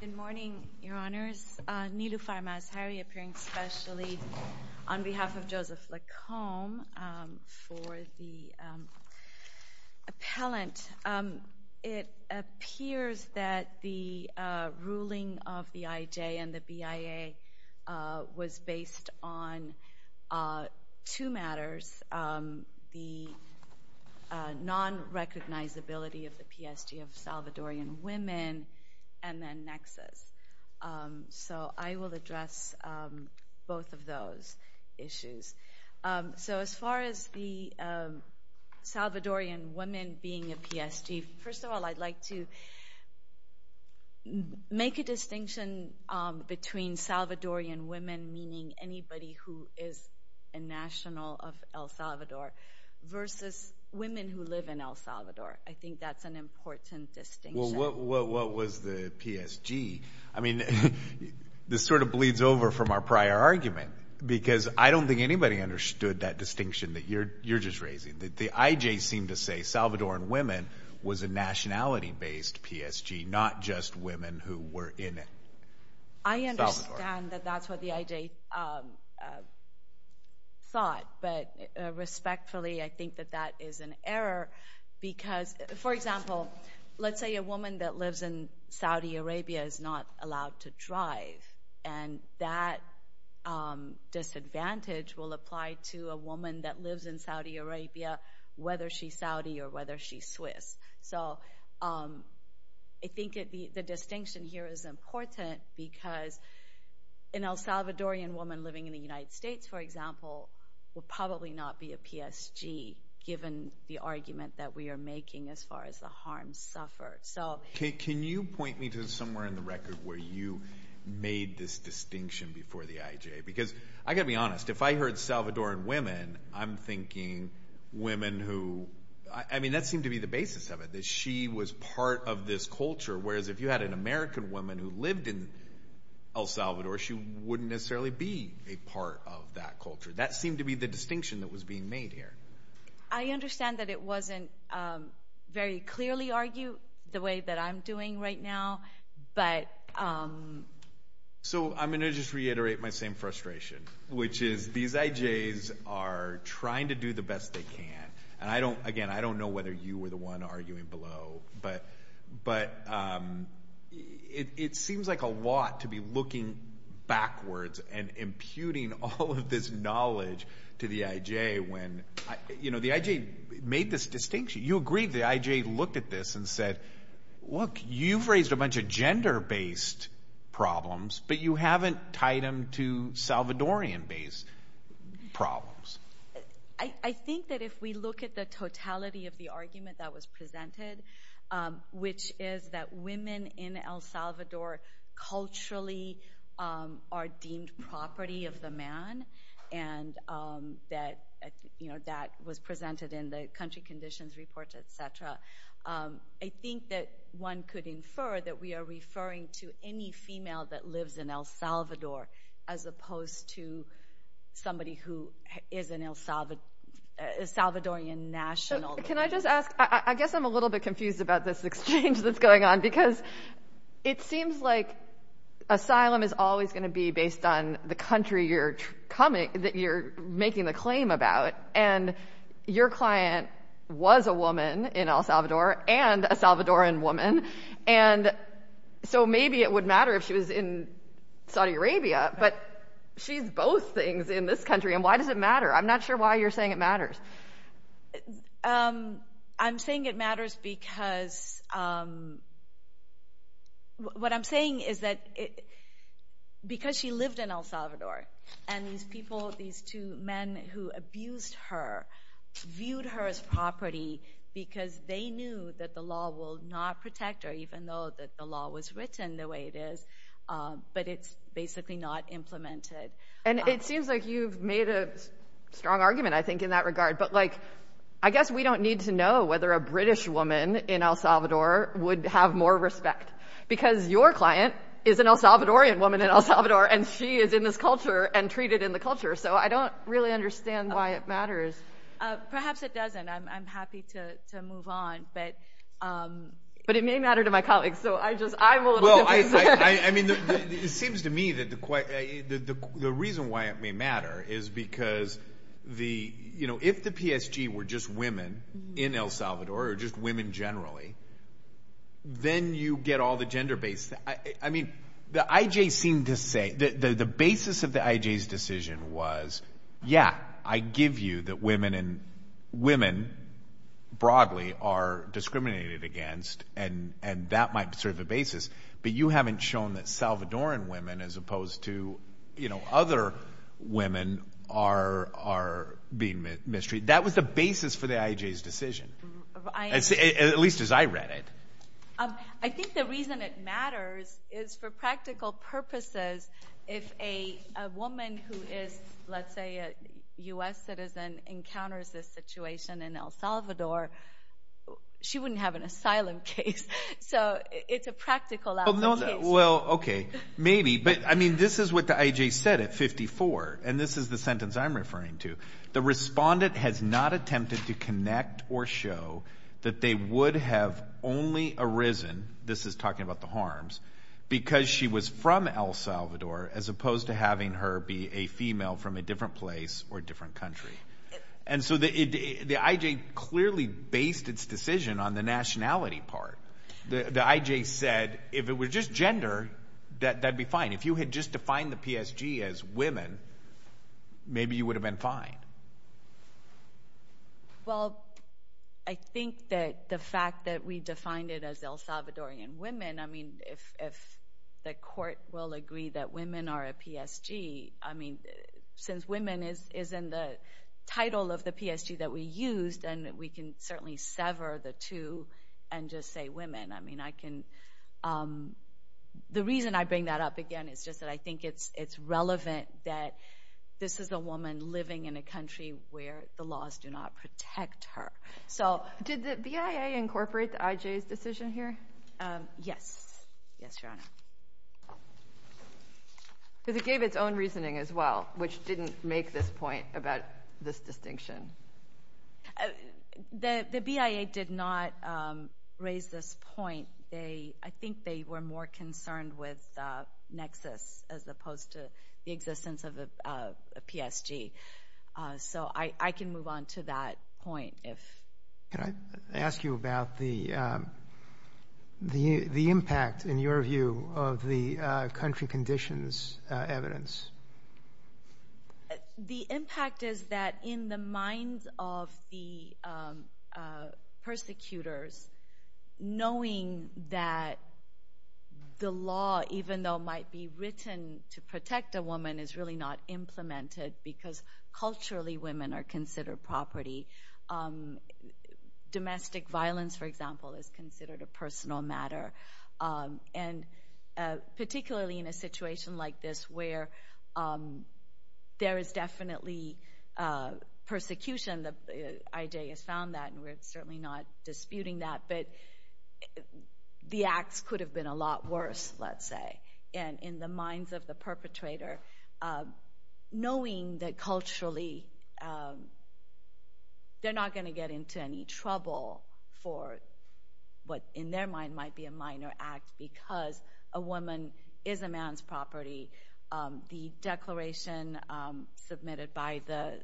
Good morning, your honors. Niloufar Mazhari appearing specially on behalf of Joseph Lacombe for the appellant. It appears that the ruling of the IJ and the BIA was based on two matters, the non-recognizability of the PSG of Salvadorian women, and then nexus. So I will address both of those issues. So as far as the Salvadorian women being a PSG, first of all I'd like to make a distinction between Salvadorian women meaning anybody who is a national of El Salvador, versus women who live in El Salvador. I think that's an important distinction. Well, what was the PSG? I mean, this sort of bleeds over from our prior argument, because I don't think anybody understood that distinction that you're just raising. The IJ seemed to say Salvadorian women was a nationality-based PSG, not just women who were in El Salvador. I understand that that's what the IJ thought, but respectfully I think that that is an error because, for example, let's say a woman that lives in Saudi Arabia is not allowed to drive, and that disadvantage will apply to a woman that lives in Saudi Arabia, whether she's Saudi or whether she's Swiss. So I think the distinction here is important because an El Salvadorian woman living in the United States, for example, will probably not be a PSG, given the argument that we are making as far as the harm suffered. Can you point me to somewhere in the record where you made this distinction before the IJ? Because I've got to be honest, if I heard Salvadorian women, I'm thinking women who – I mean, that seemed to be the basis of it, that she was part of this culture, whereas if you had an American woman who lived in El Salvador, she wouldn't necessarily be a part of that culture. That seemed to be the distinction that was being made here. I understand that it wasn't very clearly argued the way that I'm doing right now, but – So I'm going to just reiterate my same frustration, which is these IJs are trying to do the best they can. Again, I don't know whether you were the one arguing below, but it seems like a lot to be looking backwards and imputing all of this knowledge to the IJ when – the IJ made this distinction. You agreed the IJ looked at this and said, look, you've raised a bunch of gender-based problems, but you haven't tied them to Salvadorian-based problems. I think that if we look at the totality of the argument that was presented, which is that women in El Salvador culturally are deemed property of the man, and that was presented in the country conditions report, et cetera, I think that one could infer that we are referring to any female that lives in El Salvador as opposed to somebody who is an El Salvadorian national. Can I just ask – I guess I'm a little bit confused about this exchange that's going on, because it seems like asylum is always going to be based on the country you're making the claim about, and your client was a woman in El Salvador and a Salvadorian woman, and so maybe it would matter if she was in Saudi Arabia, but she's both things in this country, and why does it matter? I'm not sure why you're saying it matters. I'm saying it matters because – what I'm saying is that because she lived in El Salvador, and these people, these two men who abused her viewed her as property because they knew that the law will not protect her, even though the law was written the way it is, but it's basically not implemented. And it seems like you've made a strong argument, I think, in that regard, but I guess we don't need to know whether a British woman in El Salvador would have more respect because your client is an El Salvadorian woman in El Salvador, and she is in this culture and treated in the culture, so I don't really understand why it matters. Perhaps it doesn't. I'm happy to move on, but – But it may matter to my colleagues, so I just – I'm a little confused. I mean, it seems to me that the reason why it may matter is because the – if the PSG were just women in El Salvador or just women generally, then you get all the gender-based – I mean, the IJ seemed to say – the basis of the IJ's decision was, yeah, I give you that women and – women broadly are discriminated against, and that might be sort of the basis, but you haven't shown that Salvadorian women as opposed to other women are being mistreated. That was the basis for the IJ's decision, at least as I read it. I think the reason it matters is for practical purposes. If a woman who is, let's say, a U.S. citizen encounters this situation in El Salvador, she wouldn't have an asylum case, so it's a practical outcome case. Well, okay, maybe, but, I mean, this is what the IJ said at 54, and this is the sentence I'm referring to. The respondent has not attempted to connect or show that they would have only arisen – this is talking about the harms – because she was from El Salvador as opposed to having her be a female from a different place or a different country. And so the IJ clearly based its decision on the nationality part. The IJ said if it were just gender, that'd be fine. If you had just defined the PSG as women, maybe you would have been fine. Well, I think that the fact that we defined it as El Salvadorian women, I mean, if the court will agree that women are a PSG, I mean, since women is in the title of the PSG that we used, then we can certainly sever the two and just say women. I mean, I can – the reason I bring that up again is just that I think it's relevant that this is a woman living in a country where the laws do not protect her. So did the BIA incorporate the IJ's decision here? Yes. Yes, Your Honor. Because it gave its own reasoning as well, which didn't make this point about this distinction. The BIA did not raise this point. I think they were more concerned with nexus as opposed to the existence of a PSG. So I can move on to that point. Can I ask you about the impact, in your view, of the country conditions evidence? The impact is that in the minds of the persecutors, knowing that the law, even though it might be written to protect a woman, is really not implemented because culturally women are considered property. Domestic violence, for example, is considered a personal matter. And particularly in a situation like this where there is definitely persecution, the IJ has found that, and we're certainly not disputing that, but the acts could have been a lot worse, let's say, and in the minds of the perpetrator, knowing that culturally they're not going to get into any trouble for what in their mind might be a minor act because a woman is a man's property. The declaration submitted by the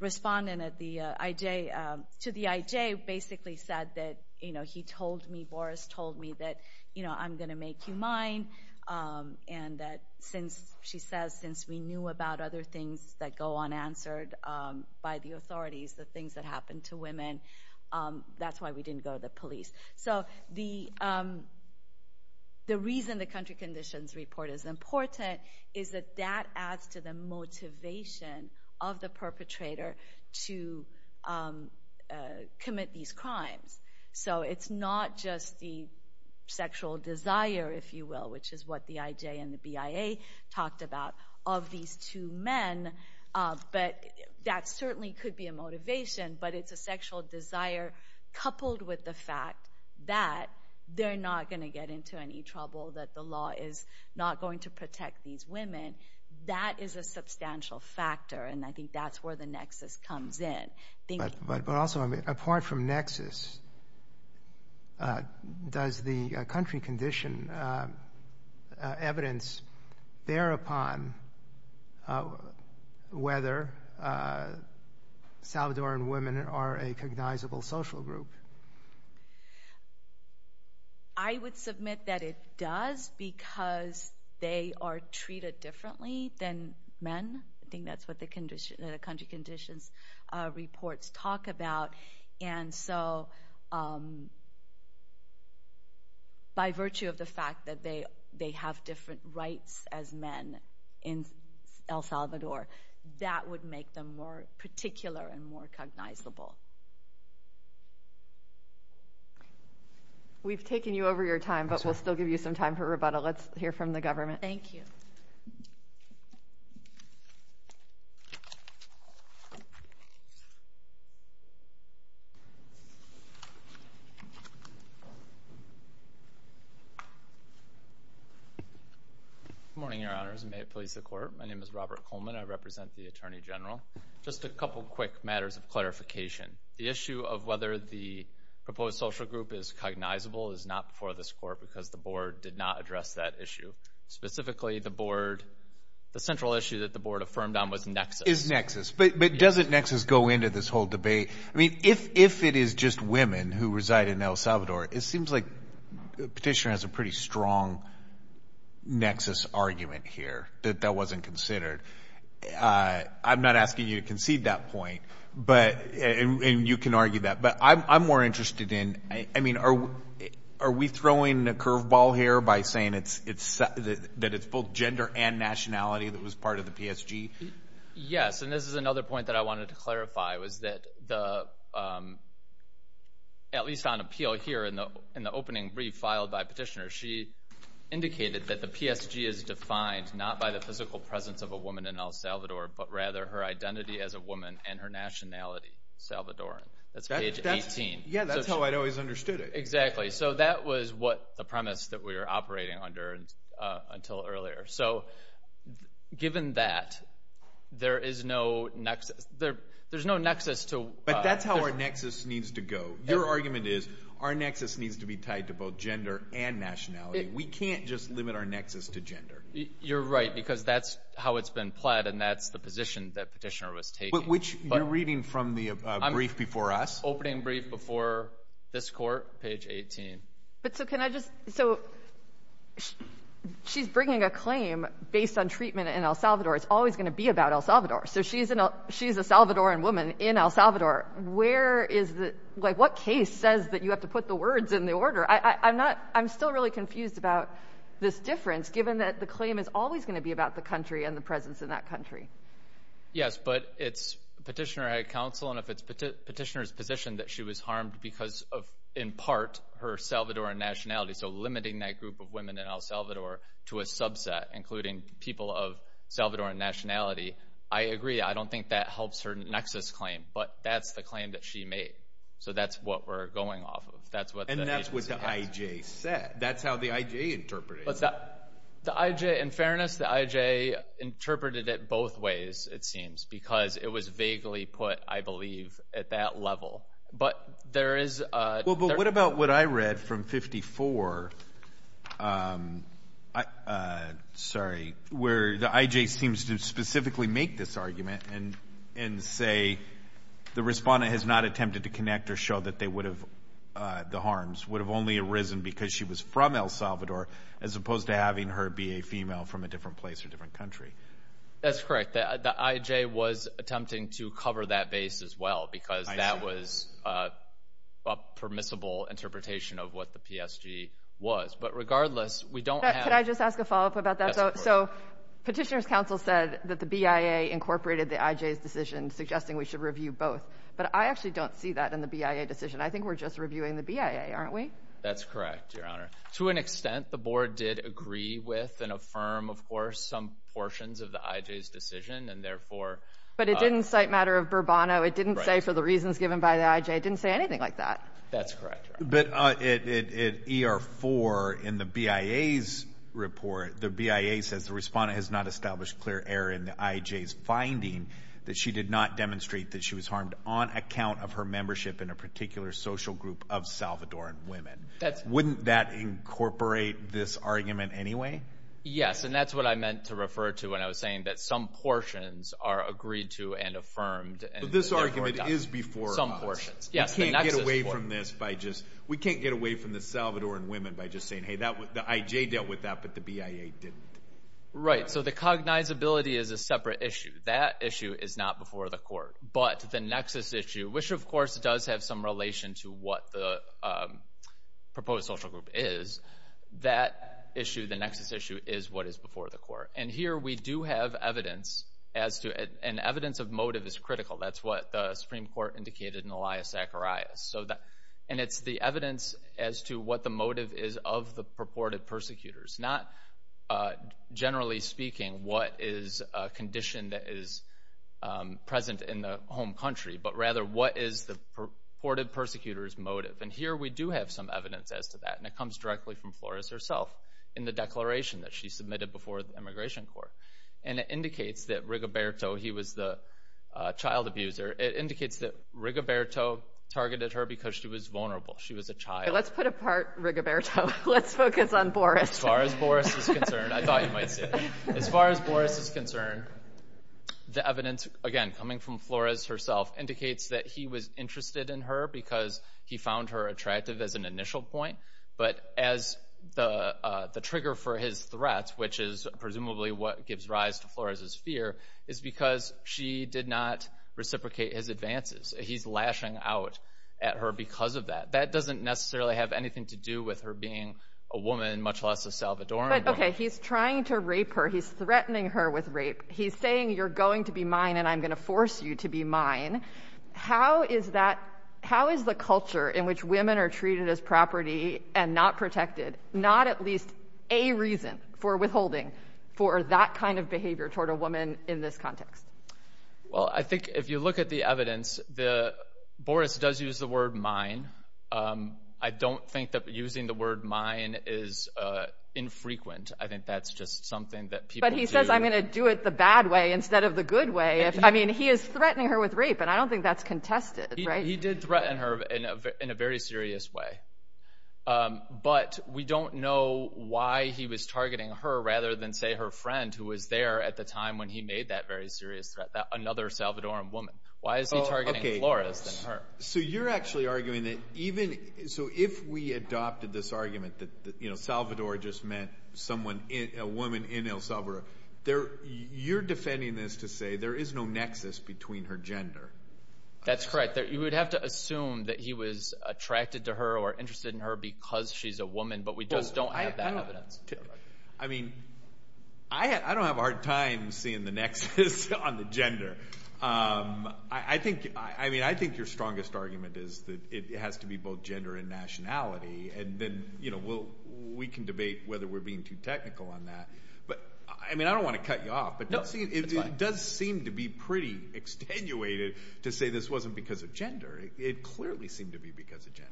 respondent to the IJ basically said that, you know, he told me, Boris told me that, you know, I'm going to make you mine and that since, she says, since we knew about other things that go unanswered by the authorities, the things that happen to women, that's why we didn't go to the police. So the reason the country conditions report is important is that that adds to the motivation of the perpetrator to commit these crimes. So it's not just the sexual desire, if you will, which is what the IJ and the BIA talked about of these two men, but that certainly could be a motivation, but it's a sexual desire coupled with the fact that they're not going to get into any trouble, that the law is not going to protect these women. That is a substantial factor, and I think that's where the nexus comes in. But also, apart from nexus, does the country condition evidence bear upon whether Salvadoran women are a cognizable social group? I would submit that it does because they are treated differently than men. I think that's what the country conditions reports talk about. And so by virtue of the fact that they have different rights as men in El Salvador, that would make them more particular and more cognizable. We've taken you over your time, but we'll still give you some time for rebuttal. Let's hear from the government. Thank you. Good morning, Your Honors, and may it please the Court. My name is Robert Coleman. I represent the Attorney General. Just a couple quick matters of clarification. The issue of whether the proposed social group is cognizable is not before this Court because the Board did not address that issue. Specifically, the central issue that the Board affirmed on was nexus. Is nexus. But doesn't nexus go into this whole debate? I mean, if it is just women who reside in El Salvador, it seems like the petitioner has a pretty strong nexus argument here that that wasn't considered. I'm not asking you to concede that point, and you can argue that. But I'm more interested in, I mean, are we throwing a curveball here by saying that it's both gender and nationality that was part of the PSG? Yes, and this is another point that I wanted to clarify, was that at least on appeal here in the opening brief filed by petitioners, she indicated that the PSG is defined not by the physical presence of a woman in El Salvador, but rather her identity as a woman and her nationality, Salvadoran. That's page 18. Yeah, that's how I'd always understood it. Exactly. So that was what the premise that we were operating under until earlier. So given that, there is no nexus. But that's how our nexus needs to go. Your argument is our nexus needs to be tied to both gender and nationality. We can't just limit our nexus to gender. You're right, because that's how it's been pled, and that's the position that petitioner was taking. You're reading from the brief before us? Opening brief before this Court, page 18. So she's bringing a claim based on treatment in El Salvador. It's always going to be about El Salvador. So she's a Salvadoran woman in El Salvador. What case says that you have to put the words in the order? I'm still really confused about this difference, given that the claim is always going to be about the country and the presence in that country. Yes, but it's petitioner at counsel, and if it's petitioner's position that she was harmed because of, in part, her Salvadoran nationality, so limiting that group of women in El Salvador to a subset, including people of Salvadoran nationality, I agree. I don't think that helps her nexus claim, but that's the claim that she made. So that's what we're going off of. And that's what the I.J. said. That's how the I.J. interpreted it. In fairness, the I.J. interpreted it both ways, it seems, because it was vaguely put, I believe, at that level. But there is a ______. Well, but what about what I read from 54, sorry, where the I.J. seems to specifically make this argument and say the respondent has not attempted to connect or show that the harms would have only arisen because she was from El Salvador as opposed to having her be a female from a different place or different country? That's correct. The I.J. was attempting to cover that base as well, because that was a permissible interpretation of what the PSG was. But regardless, we don't have ______. Can I just ask a follow-up about that? Yes, of course. So petitioner's counsel said that the BIA incorporated the I.J.'s decision, suggesting we should review both. But I actually don't see that in the BIA decision. I think we're just reviewing the BIA, aren't we? That's correct, Your Honor. To an extent, the Board did agree with and affirm, of course, some portions of the I.J.'s decision, and therefore ______. But it didn't cite matter of Burbano. It didn't say for the reasons given by the I.J. It didn't say anything like that. That's correct, Your Honor. But in ER-4 in the BIA's report, the BIA says the respondent has not established clear error in the I.J.'s finding that she did not demonstrate that she was harmed on account of her membership in a particular social group of Salvadoran women. Wouldn't that incorporate this argument anyway? Yes. And that's what I meant to refer to when I was saying that some portions are agreed to and affirmed and therefore ______. But this argument is before us. Some portions. Yes. We can't get away from this by just ______. We can't get away from the Salvadoran women by just saying, hey, the I.J. dealt with that, but the BIA didn't. Right. So the cognizability is a separate issue. That issue is not before the court. But the nexus issue, which, of course, does have some relation to what the proposed social group is, that issue, the nexus issue, is what is before the court. And here we do have evidence as to ______. And evidence of motive is critical. That's what the Supreme Court indicated in Elias Zacharias. And it's the evidence as to what the motive is of the purported persecutors, not generally speaking what is a condition that is present in the home country, but rather what is the purported persecutors' motive. And here we do have some evidence as to that. And it comes directly from Flores herself in the declaration that she submitted before the immigration court. And it indicates that Rigoberto, he was the child abuser, it indicates that Rigoberto targeted her because she was vulnerable. She was a child. Let's put apart Rigoberto. Let's focus on Flores. As far as Boris is concerned, I thought you might say, as far as Boris is concerned, the evidence, again, coming from Flores herself, indicates that he was interested in her because he found her attractive as an initial point. But as the trigger for his threats, which is presumably what gives rise to Flores' fear, is because she did not reciprocate his advances. He's lashing out at her because of that. That doesn't necessarily have anything to do with her being a woman, much less a Salvadoran woman. But, okay, he's trying to rape her. He's threatening her with rape. He's saying you're going to be mine and I'm going to force you to be mine. How is that, how is the culture in which women are treated as property and not protected not at least a reason for withholding for that kind of behavior toward a woman in this context? Well, I think if you look at the evidence, Boris does use the word mine. I don't think that using the word mine is infrequent. I think that's just something that people do. But he says I'm going to do it the bad way instead of the good way. I mean, he is threatening her with rape, and I don't think that's contested, right? He did threaten her in a very serious way. But we don't know why he was targeting her rather than, say, her friend, who was there at the time when he made that very serious threat, another Salvadoran woman. Why is he targeting Flores than her? So you're actually arguing that even, so if we adopted this argument that Salvador just meant someone, a woman in El Salvador, you're defending this to say there is no nexus between her gender. That's correct. You would have to assume that he was attracted to her or interested in her because she's a woman, but we just don't have that evidence. I mean, I don't have a hard time seeing the nexus on the gender. I think your strongest argument is that it has to be both gender and nationality, and then we can debate whether we're being too technical on that. But, I mean, I don't want to cut you off, but it does seem to be pretty extenuated to say this wasn't because of gender. It clearly seemed to be because of gender.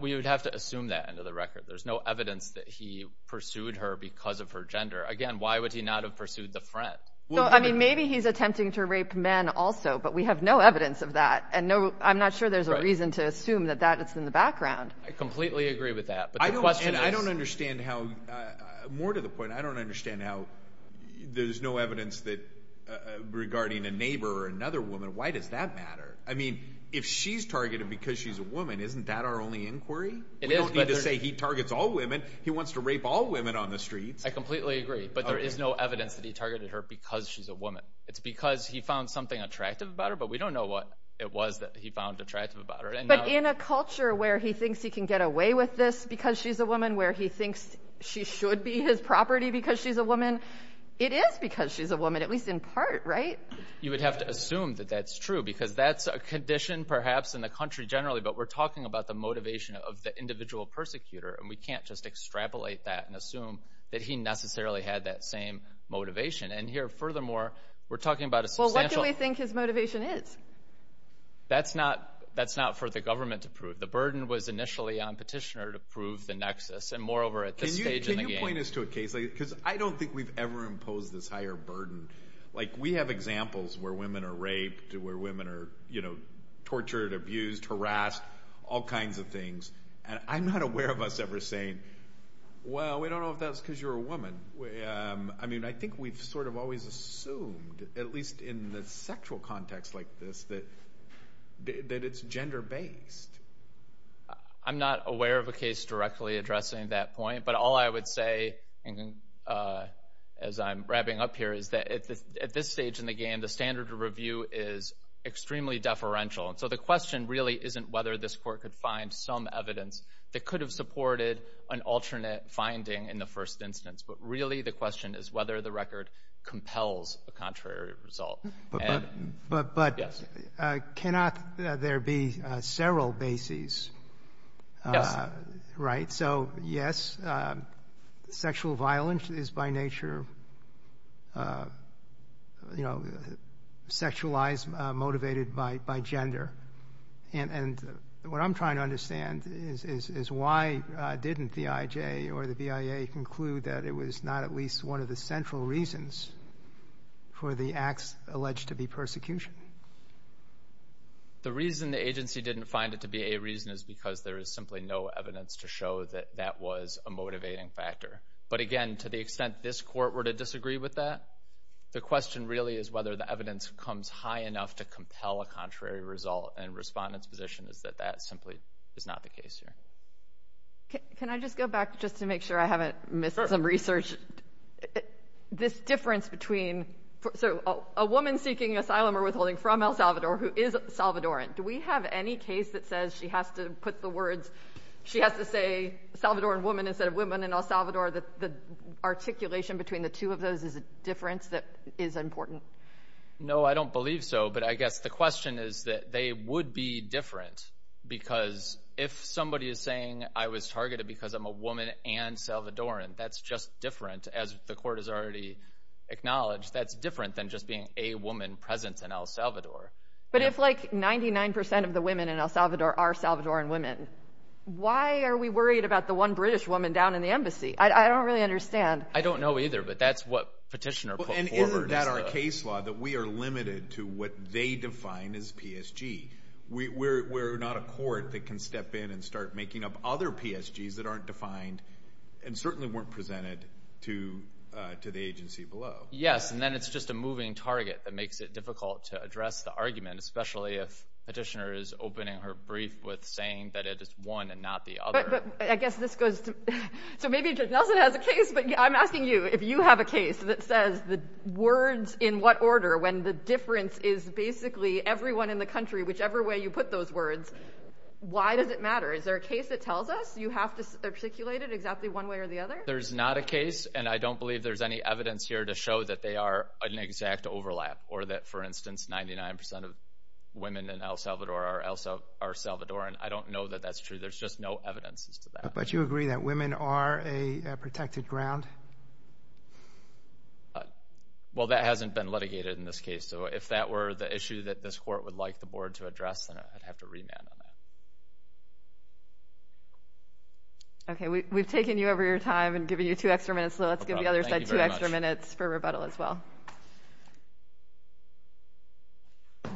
We would have to assume that end of the record. There's no evidence that he pursued her because of her gender. Again, why would he not have pursued the friend? Well, I mean, maybe he's attempting to rape men also, but we have no evidence of that, and I'm not sure there's a reason to assume that that is in the background. I completely agree with that. And I don't understand how, more to the point, I don't understand how there's no evidence regarding a neighbor or another woman. Why does that matter? I mean, if she's targeted because she's a woman, isn't that our only inquiry? We don't need to say he targets all women. He wants to rape all women on the streets. I completely agree, but there is no evidence that he targeted her because she's a woman. It's because he found something attractive about her, but we don't know what it was that he found attractive about her. But in a culture where he thinks he can get away with this because she's a woman, where he thinks she should be his property because she's a woman, it is because she's a woman, at least in part, right? You would have to assume that that's true because that's a condition perhaps in the country generally, but we're talking about the motivation of the individual persecutor, and we can't just extrapolate that and assume that he necessarily had that same motivation. And here, furthermore, we're talking about a substantial— Well, what do we think his motivation is? That's not for the government to prove. The burden was initially on Petitioner to prove the nexus, and moreover at this stage in the game— Can you point us to a case? Because I don't think we've ever imposed this higher burden. We have examples where women are raped, where women are tortured, abused, harassed, all kinds of things, and I'm not aware of us ever saying, well, we don't know if that's because you're a woman. I think we've sort of always assumed, at least in the sexual context like this, that it's gender-based. I'm not aware of a case directly addressing that point, but all I would say as I'm wrapping up here is that at this stage in the game, the standard of review is extremely deferential, and so the question really isn't whether this court could find some evidence that could have supported an alternate finding in the first instance, but really the question is whether the record compels a contrary result. But cannot there be several bases? Yes. Right. So, yes, sexual violence is by nature sexualized, motivated by gender. And what I'm trying to understand is why didn't the IJ or the BIA conclude that it was not at least one of the central reasons for the acts alleged to be persecution? The reason the agency didn't find it to be a reason is because there is simply no evidence to show that that was a motivating factor. But, again, to the extent this court were to disagree with that, the question really is whether the evidence comes high enough to compel a contrary result, and Respondent's position is that that simply is not the case here. Can I just go back just to make sure I haven't missed some research? This difference between a woman seeking asylum or withholding from El Salvador who is Salvadoran, do we have any case that says she has to put the words, she has to say Salvadoran woman instead of women in El Salvador, the articulation between the two of those is a difference that is important? No, I don't believe so. But I guess the question is that they would be different because if somebody is saying I was targeted because I'm a woman and Salvadoran, that's just different as the court has already acknowledged. That's different than just being a woman present in El Salvador. But if, like, 99% of the women in El Salvador are Salvadoran women, why are we worried about the one British woman down in the embassy? I don't really understand. I don't know either, but that's what Petitioner put forward. Isn't that our case law that we are limited to what they define as PSG? We're not a court that can step in and start making up other PSGs that aren't defined and certainly weren't presented to the agency below. Yes, and then it's just a moving target that makes it difficult to address the argument, especially if Petitioner is opening her brief with saying that it is one and not the other. But I guess this goes to, so maybe Judge Nelson has a case, but I'm asking you if you have a case that says the words in what order when the difference is basically everyone in the country, whichever way you put those words, why does it matter? Is there a case that tells us you have to articulate it exactly one way or the other? There's not a case, and I don't believe there's any evidence here to show that they are an exact overlap or that, for instance, 99% of women in El Salvador are Salvadoran. I don't know that that's true. There's just no evidence as to that. But you agree that women are a protected ground? Well, that hasn't been litigated in this case. So if that were the issue that this court would like the board to address, then I'd have to remand on that. Okay, we've taken you over your time and given you two extra minutes, so let's give the other side two extra minutes for rebuttal as well. Thank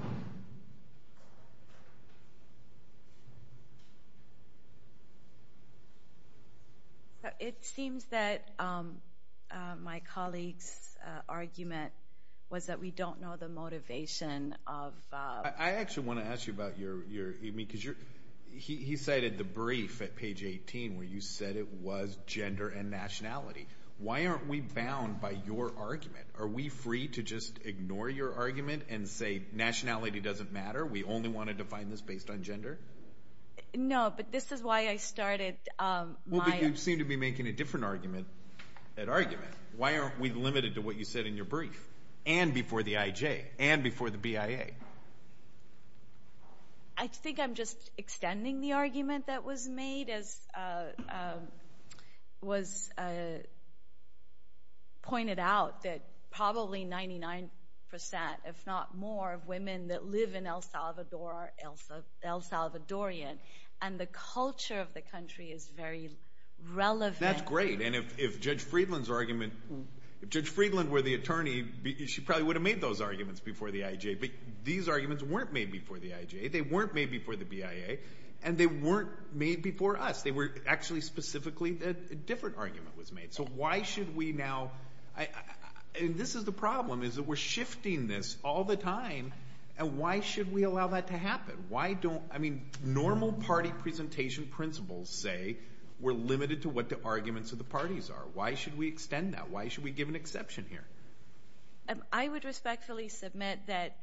you. It seems that my colleague's argument was that we don't know the motivation of ---- I actually want to ask you about your ---- because he cited the brief at page 18 where you said it was gender and nationality. Why aren't we bound by your argument? Are we free to just ignore your argument and say nationality doesn't matter, we only want to define this based on gender? No, but this is why I started my ---- Well, but you seem to be making a different argument at argument. Why aren't we limited to what you said in your brief and before the IJ and before the BIA? I think I'm just extending the argument that was made. It was pointed out that probably 99%, if not more, of women that live in El Salvador are El Salvadorian, and the culture of the country is very relevant. That's great. And if Judge Friedland were the attorney, she probably would have made those arguments before the IJ. But these arguments weren't made before the IJ. They weren't made before the BIA, and they weren't made before us. They were actually specifically that a different argument was made. So why should we now ---- And this is the problem is that we're shifting this all the time, and why should we allow that to happen? Why don't ---- I mean, normal party presentation principles say we're limited to what the arguments of the parties are. Why should we extend that? Why should we give an exception here? I would respectfully submit that,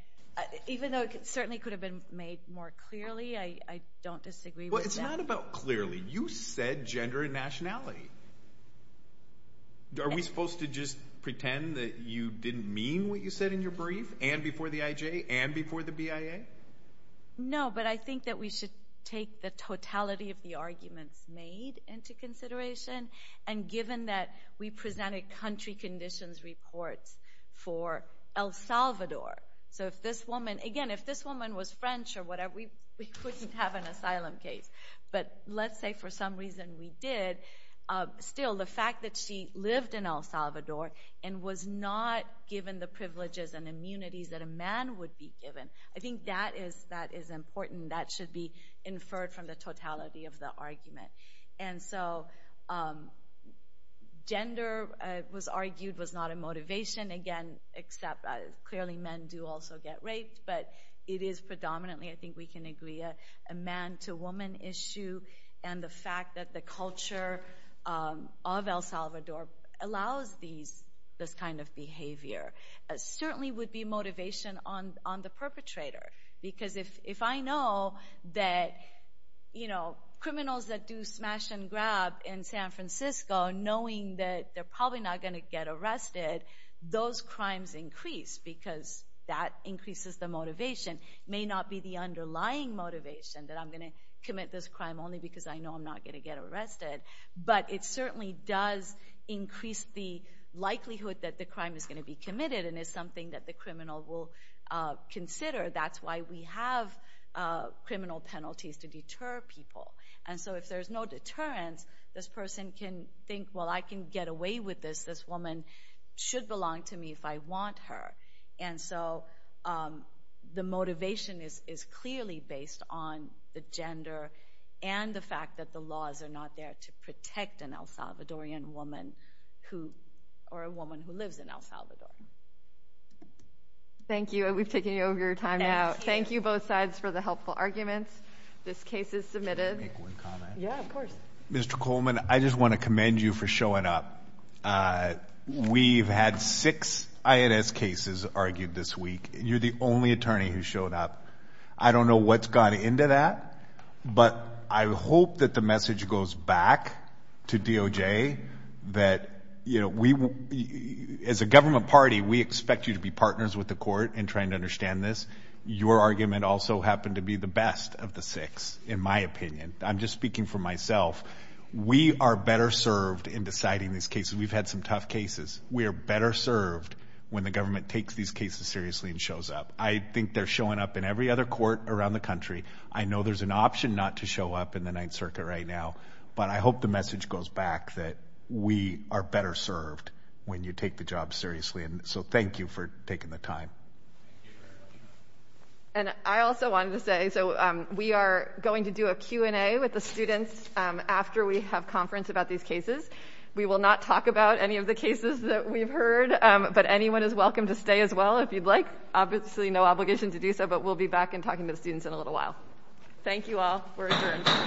even though it certainly could have been made more clearly, I don't disagree with that. Well, it's not about clearly. You said gender and nationality. Are we supposed to just pretend that you didn't mean what you said in your brief and before the IJ and before the BIA? No, but I think that we should take the totality of the arguments made into consideration, and given that we presented country conditions reports for El Salvador. So if this woman ---- Again, if this woman was French or whatever, we wouldn't have an asylum case. But let's say for some reason we did. Still, the fact that she lived in El Salvador and was not given the privileges and immunities that a man would be given, I think that is important. That should be inferred from the totality of the argument. And so gender, it was argued, was not a motivation. Again, clearly men do also get raped, but it is predominantly, I think we can agree, a man-to-woman issue. And the fact that the culture of El Salvador allows this kind of behavior certainly would be motivation on the perpetrator. Because if I know that criminals that do smash and grab in San Francisco, knowing that they're probably not going to get arrested, those crimes increase because that increases the motivation. It may not be the underlying motivation that I'm going to commit this crime only because I know I'm not going to get arrested, but it certainly does increase the likelihood that the crime is going to be committed and is something that the criminal will consider. That's why we have criminal penalties to deter people. And so if there's no deterrence, this person can think, well, I can get away with this, this woman should belong to me if I want her. And so the motivation is clearly based on the gender and the fact that the laws are not there to protect an El Salvadorian woman or a woman who lives in El Salvador. Thank you. We've taken over your time now. Thank you both sides for the helpful arguments. This case is submitted. Can I make one comment? Yeah, of course. Mr. Coleman, I just want to commend you for showing up. We've had six INS cases argued this week. You're the only attorney who showed up. I don't know what's gone into that, but I hope that the message goes back to DOJ that as a government party, we expect you to be partners with the court in trying to understand this. Your argument also happened to be the best of the six, in my opinion. I'm just speaking for myself. We are better served in deciding these cases. We've had some tough cases. We are better served when the government takes these cases seriously and shows up. I think they're showing up in every other court around the country. I know there's an option not to show up in the Ninth Circuit right now, but I hope the message goes back that we are better served when you take the job seriously. Thank you for taking the time. I also wanted to say we are going to do a Q&A with the students after we have conference about these cases. We will not talk about any of the cases that we've heard, but anyone is welcome to stay as well if you'd like. Obviously, no obligation to do so, but we'll be back and talking to the students in a little while. Thank you all. We're adjourned. Thank you.